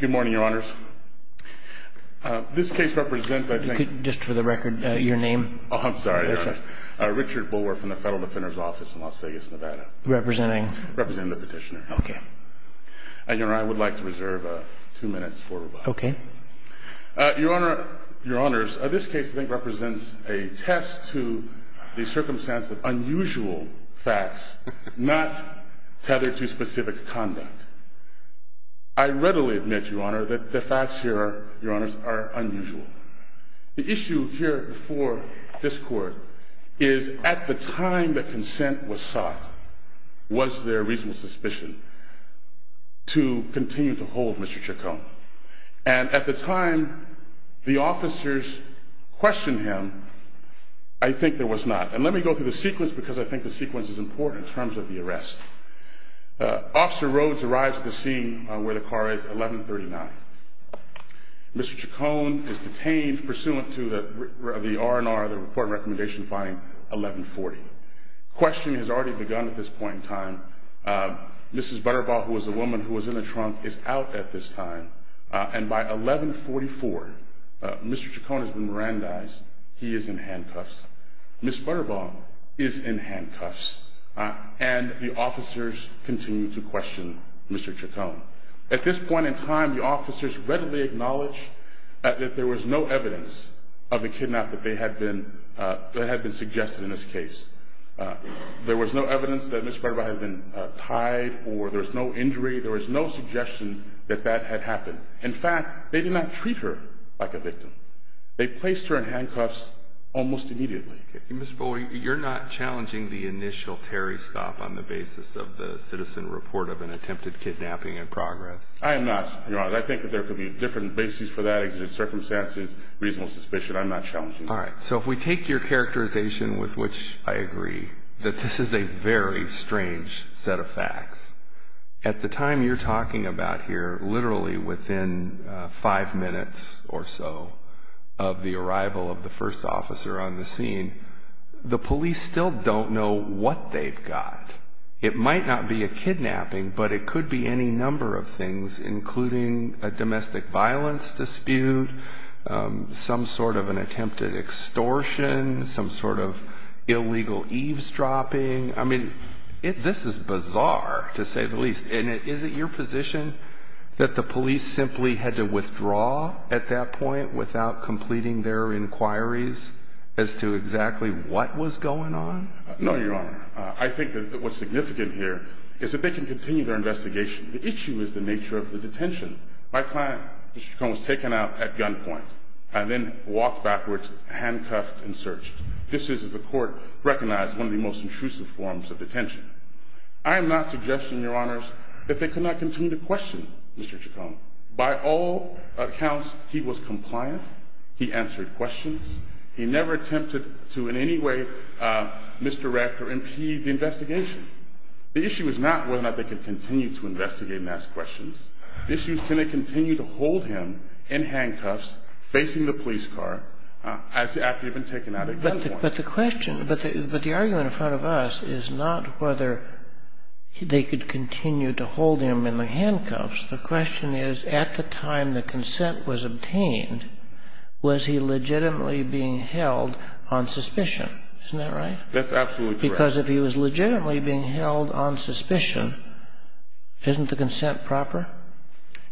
good morning your honors this case represents I think just for the record your name I'm sorry Richard Bulwer from the Federal Defender's Office in Las Vegas Nevada representing representing the petitioner okay and you know I would like to reserve two minutes for okay your honor your honors this case I think represents a test to the circumstance of unusual facts not tethered to specific conduct I readily admit your honor that the facts here your honors are unusual the issue here for this court is at the time the consent was sought was there reasonable suspicion to continue to hold mr. Chacon and at the time the officers questioned him I think there was not and I think the sequence is important in terms of the arrest officer Rhodes arrives at the scene where the car is 1139 mr. Chacon is detained pursuant to the R&R the report recommendation filing 1140 question has already begun at this point in time mrs. Butterball who was the woman who was in the trunk is out at this time and by 1144 mr. Chacon has been Mirandized he is in handcuffs Miss Butterball is in handcuffs and the officers continue to question mr. Chacon at this point in time the officers readily acknowledge that there was no evidence of a kidnap that they had been that had been suggested in this case there was no evidence that Miss Butterball had been tied or there was no injury there was no suggestion that that had happened in fact they did not treat her like a victim they placed her in handcuffs almost immediately you're not challenging the initial Terry stop on the basis of the citizen report of an attempted kidnapping in progress I am NOT I think that there could be different bases for that exited circumstances reasonable suspicion I'm not challenging all right so if we take your characterization with which I agree that this is a very strange set of facts at the time you're talking about here within five minutes or so of the arrival of the first officer on the scene the police still don't know what they've got it might not be a kidnapping but it could be any number of things including a domestic violence dispute some sort of an attempted extortion some sort of illegal eavesdropping I mean if this is the police simply had to withdraw at that point without completing their inquiries as to exactly what was going on no your honor I think that what's significant here is that they can continue their investigation the issue is the nature of the detention my client was taken out at gunpoint and then walked backwards handcuffed and searched this is the court recognized one of the most intrusive forms of detention I am NOT suggesting your honors that they cannot continue to question mr. Chacon by all accounts he was compliant he answered questions he never attempted to in any way misdirect or impede the investigation the issue is not whether or not they can continue to investigate and ask questions the issue is can they continue to hold him in handcuffs facing the police car as after you've been taken out at gunpoint but the question but but the argument in front of us is not whether they could continue to hold him in the handcuffs the question is at the time the consent was obtained was he legitimately being held on suspicion isn't that right that's absolutely because if he was legitimately being held on suspicion isn't the consent proper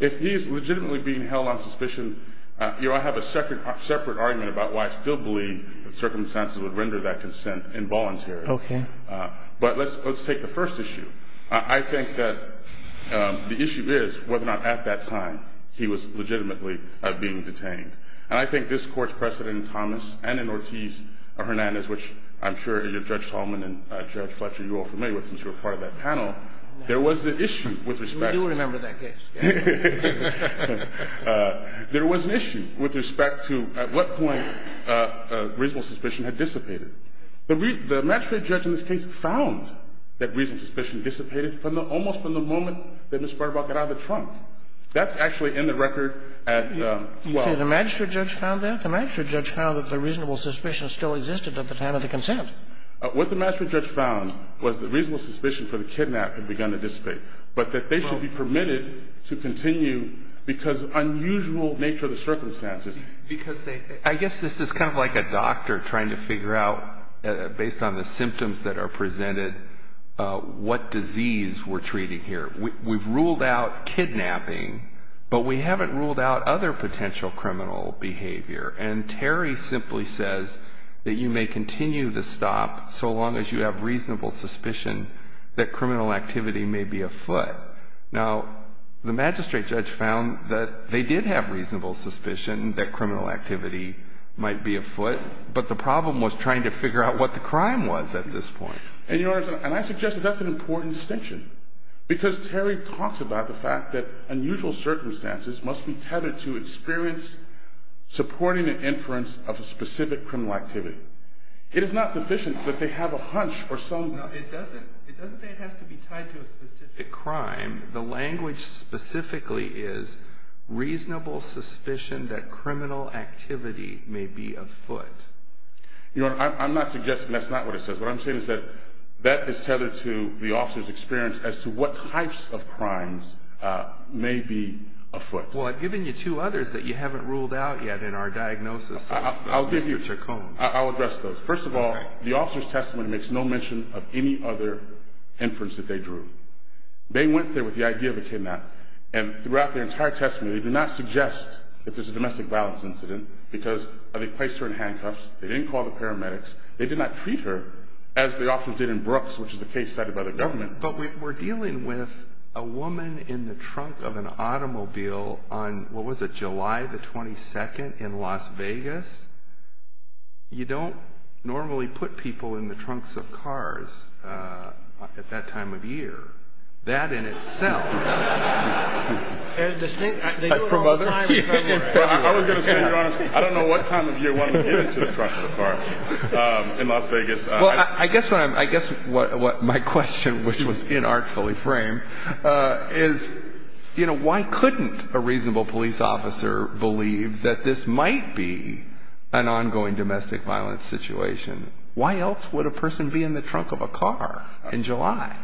if he is legitimately being held on suspicion you know I have a second separate argument about why I still believe that circumstances would render that consent involuntary okay but let's let's take the first issue I think that the issue is whether or not at that time he was legitimately being detained and I think this court's precedent in Thomas and in Ortiz Hernandez which I'm sure your judge Tallman and Judge Fletcher you all familiar with since you're part of that panel there was the issue with respect to remember that case there was an issue with respect to at what point reasonable suspicion had dissipated the match rate judge in this case found that reason suspicion dissipated from the almost from the moment that this part about get out of the trunk that's actually in the record at well the magistrate judge found that the magistrate judge found that the reasonable suspicion still existed at the time of the consent what the master judge found was the reasonable suspicion for the kidnap had begun to dissipate but that they should be permitted to continue because unusual nature of the circumstances because they I guess this is kind of like a doctor trying to figure out based on the we've ruled out kidnapping but we haven't ruled out other potential criminal behavior and Terry simply says that you may continue to stop so long as you have reasonable suspicion that criminal activity may be a foot now the magistrate judge found that they did have reasonable suspicion that criminal activity might be a foot but the problem was trying to figure out what the crime was at this point and yours and I suggested that's an important distinction because Terry talks about the fact that unusual circumstances must be tethered to experience supporting an inference of a specific criminal activity it is not sufficient that they have a hunch or so it doesn't it doesn't say it has to be tied to a specific crime the language specifically is reasonable suspicion that criminal activity may be a foot you know I'm not suggesting that's not what it says what I'm saying is that that is tethered to the officers experience as to what types of crimes may be a foot well I've given you two others that you haven't ruled out yet in our diagnosis I'll give you a chaconne I'll address those first of all the officer's testimony makes no mention of any other inference that they drew they went there with the idea of a kidnap and throughout their entire testimony they do not suggest if there's a domestic violence incident because they placed her in handcuffs they didn't call the medics they did not treat her as the officers did in Brooks which is a case cited by the government but we're dealing with a woman in the trunk of an automobile on what was it July the 22nd in Las Vegas you don't normally put people in the trunks of cars at that time of year that in itself I guess what my question which was inartfully frame is you know why couldn't a reasonable police officer believe that this might be an ongoing domestic violence situation why else would a person be in the trunk of a car in July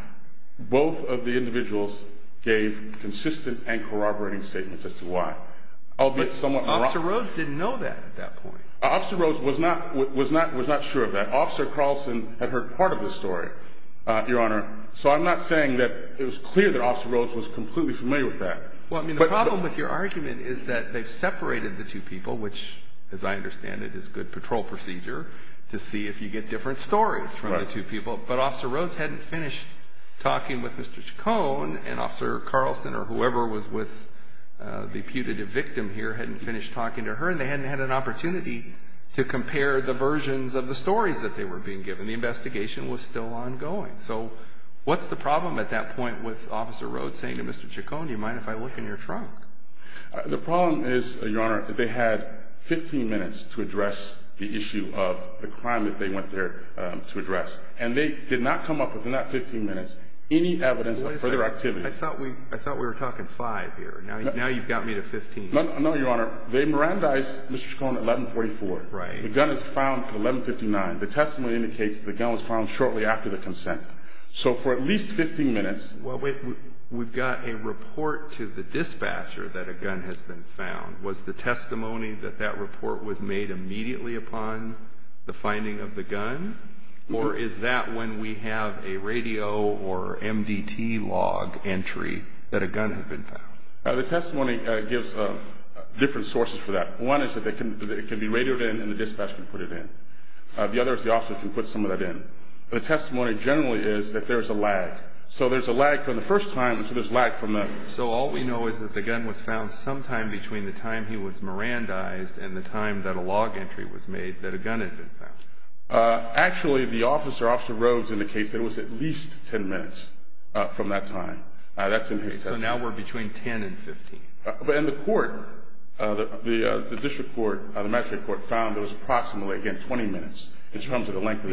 both of the individuals gave consistent and corroborating statements as to why I'll get someone off the roads didn't know that at that point officer Rose was not what was not was not sure of that officer Carlson had heard part of the story your honor so I'm not saying that it was clear that officer Rose was completely familiar with that well I mean the problem with your argument is that they've separated the two people which as I understand it is good patrol procedure to see if you get different stories from the two people but officer Rose hadn't finished talking with mr. Cone and officer Carlson or whoever was with the putative victim here hadn't finished talking to her and hadn't had an opportunity to compare the versions of the stories that they were being given the investigation was still ongoing so what's the problem at that point with officer Rhodes saying to mr. Chacon do you mind if I look in your trunk the problem is your honor if they had 15 minutes to address the issue of the crime that they went there to address and they did not come up with enough 15 minutes any evidence for their activity I thought we I thought we were 1144 right the gun is found 1159 the testimony indicates the gun was found shortly after the consent so for at least 15 minutes well we've got a report to the dispatcher that a gun has been found was the testimony that that report was made immediately upon the finding of the gun or is that when we have a radio or MDT log entry that a gun had been found the testimony gives a different sources for that one is that they can it can be radioed in and the dispatcher can put it in the other is the officer can put some of that in the testimony generally is that there's a lag so there's a lag from the first time so there's lag from them so all we know is that the gun was found sometime between the time he was Miran dies and the time that a log entry was made that a gun had been found actually the officer officer Rhodes in the case there was at least 10 minutes from that time that's amazing now we're between 10 and 15 but in the court that the the district court the metric court found it was approximately again 20 minutes in terms of the length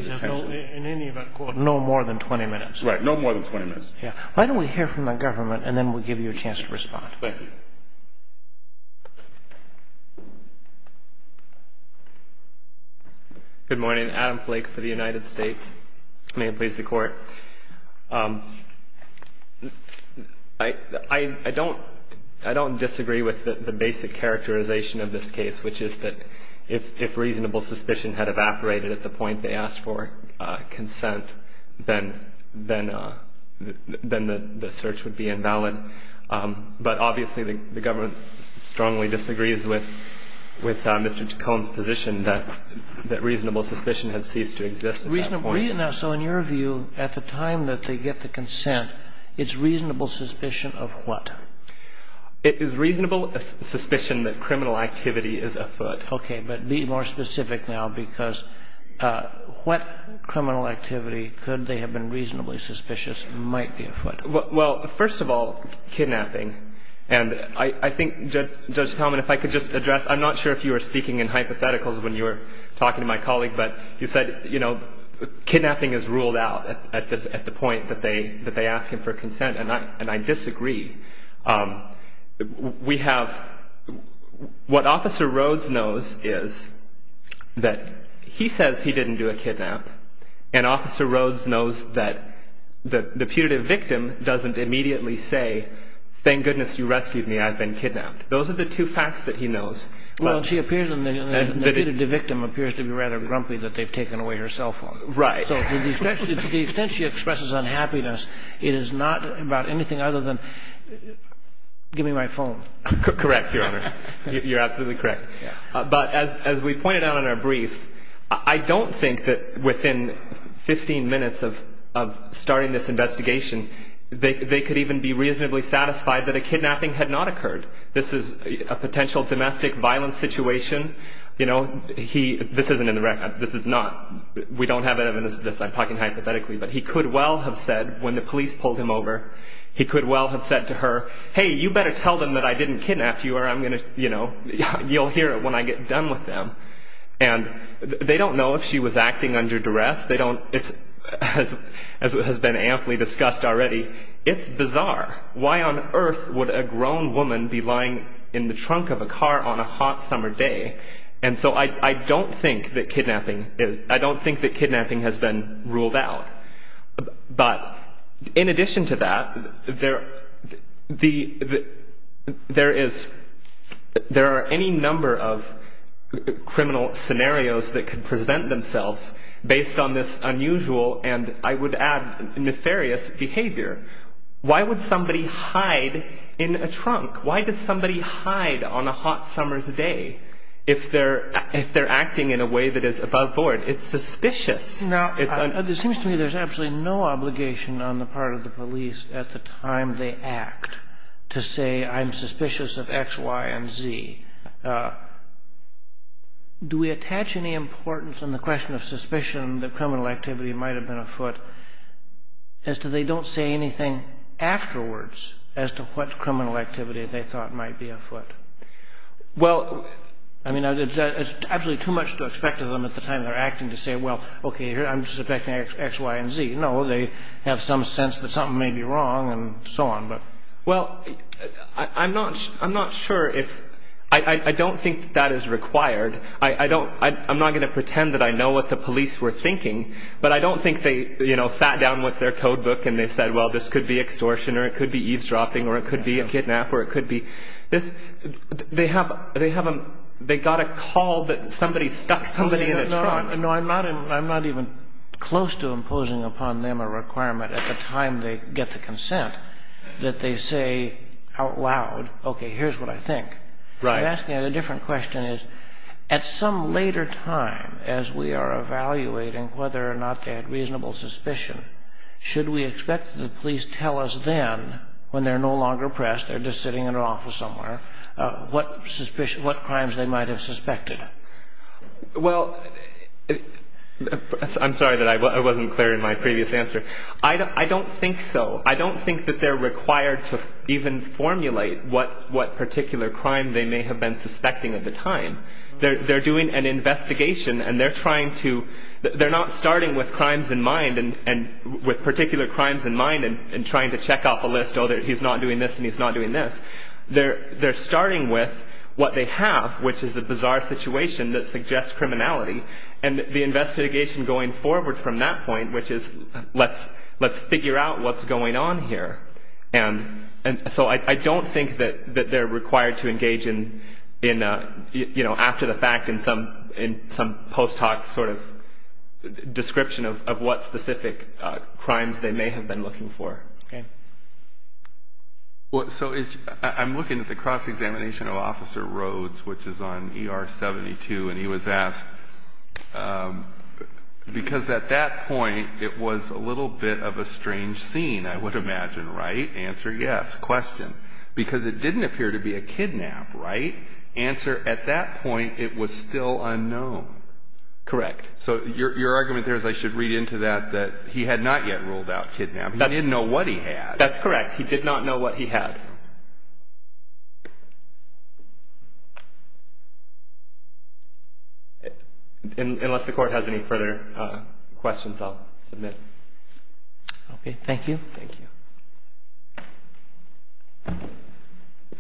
no more than 20 minutes right no more than 20 minutes yeah why don't we hear from the government and then we'll give you a chance to respond good morning Adam Flake for the United States may it please the court I I don't I don't disagree with the basic characterization of this case which is that if if reasonable suspicion had evaporated at the point they asked for consent then then then the search would be invalid but obviously the government strongly disagrees with with mr. Cone's position that that reasonable suspicion has ceased to exist reasonably enough so in your view at the time that they get the consent it's reasonable suspicion of what it is reasonable suspicion that criminal activity is afoot okay but be more specific now because what criminal activity could they have been reasonably suspicious might be afoot well first of all kidnapping and I think judge tell me if I could just address I'm not sure if you were speaking in hypotheticals when you were talking to my colleague but you know kidnapping is ruled out at this at the point that they that they ask him for consent and I and I disagree we have what officer Rhodes knows is that he says he didn't do a kidnap and officer Rhodes knows that the the putative victim doesn't immediately say thank goodness you rescued me I've been kidnapped those are the two facts that he knows well she appears in the victim appears to be rather grumpy that they've taken away her cell phone right so the extent she expresses unhappiness it is not about anything other than give me my phone correct your honor you're absolutely correct but as we pointed out in our brief I don't think that within 15 minutes of starting this investigation they could even be reasonably satisfied that a kidnapping had not occurred this is a potential domestic violence situation you know he this isn't in the record this is not we don't have evidence this I'm talking hypothetically but he could well have said when the police pulled him over he could well have said to her hey you better tell them that I didn't kidnap you or I'm gonna you know you'll hear it when I get done with them and they don't know if she was acting under duress they don't it's as it has been amply discussed already it's bizarre why on earth would a grown woman be lying in the trunk of a car on a hot summer day and so I don't think that kidnapping is I don't think that kidnapping has been ruled out but in addition to that there the there is there are any number of criminal scenarios that could present themselves based on this unusual and I would add nefarious behavior why would somebody hide in a trunk why did somebody hide on a hot summer's day if they're if they're acting in a way that is above board it's suspicious now it's an other seems to me there's absolutely no obligation on the part of the police at the time they act to say I'm suspicious of X Y & Z do we attach any importance on the question of suspicion that criminal activity might have been afoot as to they don't say anything afterwards as to what criminal activity they thought might be afoot well I mean it's actually too much to expect of them at the time they're acting to say well okay here I'm just expecting X Y & Z no they have some sense that something may be wrong and so on but well I'm not I'm not sure if I don't think that is required I don't I'm not going to pretend that I know what the police were thinking but I don't think they you know sat down with their codebook and they said well this could be extortion or it could be eavesdropping or it could be a kidnap or it could be this they have they haven't they got a call that somebody stuck somebody in a trunk no I'm not I'm not even close to imposing upon them a requirement at the time they get the consent that they say out loud okay here's what I think right asking a different question is at some later time as we are evaluating whether or not they had reasonable suspicion should we expect the police tell us then when they're no longer pressed they're just sitting in an office somewhere what suspicion what crimes they might have suspected well I'm sorry that I wasn't clear in my previous answer I don't I don't think so I don't think that they're required to even formulate what what particular crime they may have been suspecting at the time they're doing an investigation and they're trying to they're not starting with crimes in mind and and with particular crimes in mind and trying to check off a list oh there he's not doing this and he's not doing this they're they're starting with what they have which is a bizarre situation that suggests criminality and the investigation going forward from that point which is let's let's figure out what's going on here and and so I don't think that that they're required to in some post hoc sort of description of what specific crimes they may have been looking for what so is I'm looking at the cross-examination of officer Rhodes which is on er 72 and he was asked because at that point it was a little bit of a strange scene I would imagine right answer yes question because it was at that point it was still unknown correct so your argument there is I should read into that that he had not yet ruled out kidnap that didn't know what he had that's correct he did not know what he had unless the court has any further questions I'll submit okay thank you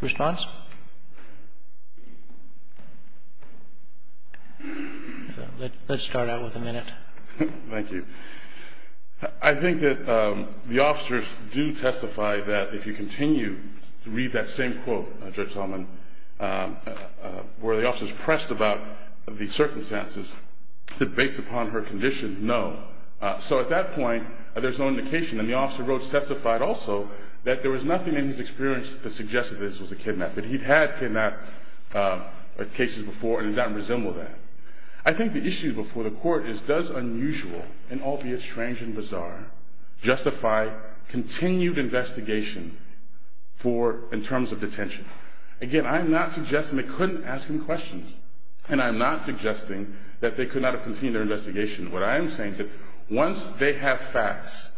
response let's start out with a minute thank you I think that the officers do testify that if you continue to read that same quote judge Solomon where the officers pressed about the circumstances to based upon her condition no so at that point there's no indication and the officer wrote testified also that there was nothing in his experience to suggest that this was a kidnap that he'd had kidnapped cases before and it doesn't resemble that I think the issue before the court is does unusual and albeit strange and bizarre justify continued investigation for in terms of detention again I'm not suggesting they couldn't ask him questions and I'm not suggesting that they could not have investigation what I'm saying once they have facts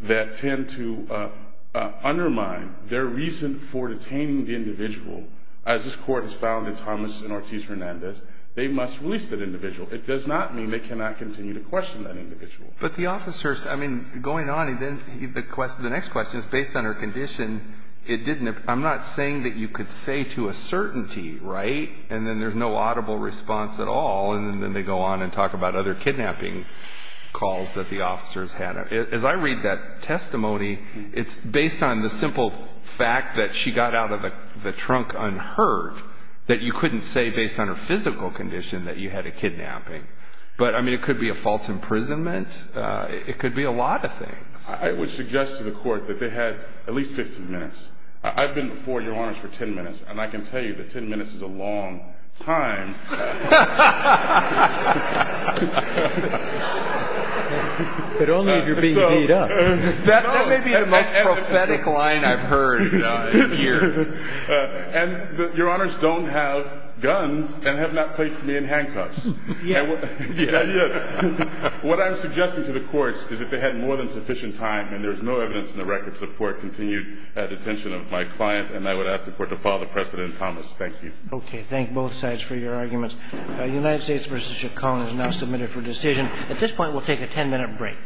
that tend to undermine their reason for detaining the individual as this court has found in Thomas and Ortiz Hernandez they must release that individual it does not mean they cannot continue to question that individual but the officers I mean going on and then because the next question is based on her condition it didn't I'm not saying that you could say to a certainty right and then there's no audible response at all and then they go on and talk about other kidnapping calls that the officers had as I read that testimony it's based on the simple fact that she got out of the trunk unheard that you couldn't say based on her physical condition that you had a kidnapping but I mean it could be a false imprisonment it could be a lot of things I would suggest to the court that they had at least 15 minutes I've been for your arms for 10 minutes and I can tell you that 10 minutes is a long time but only if you're being beat up that may be the most prophetic line I've heard in years and your honors don't have guns and have not placed me in handcuffs what I'm suggesting to the courts is that they had more than sufficient time and there is no evidence in the record support continued detention of my client and I thank you both sides for your arguments United States vs. Chaconne is now submitted for decision at this point we'll take a 10-minute break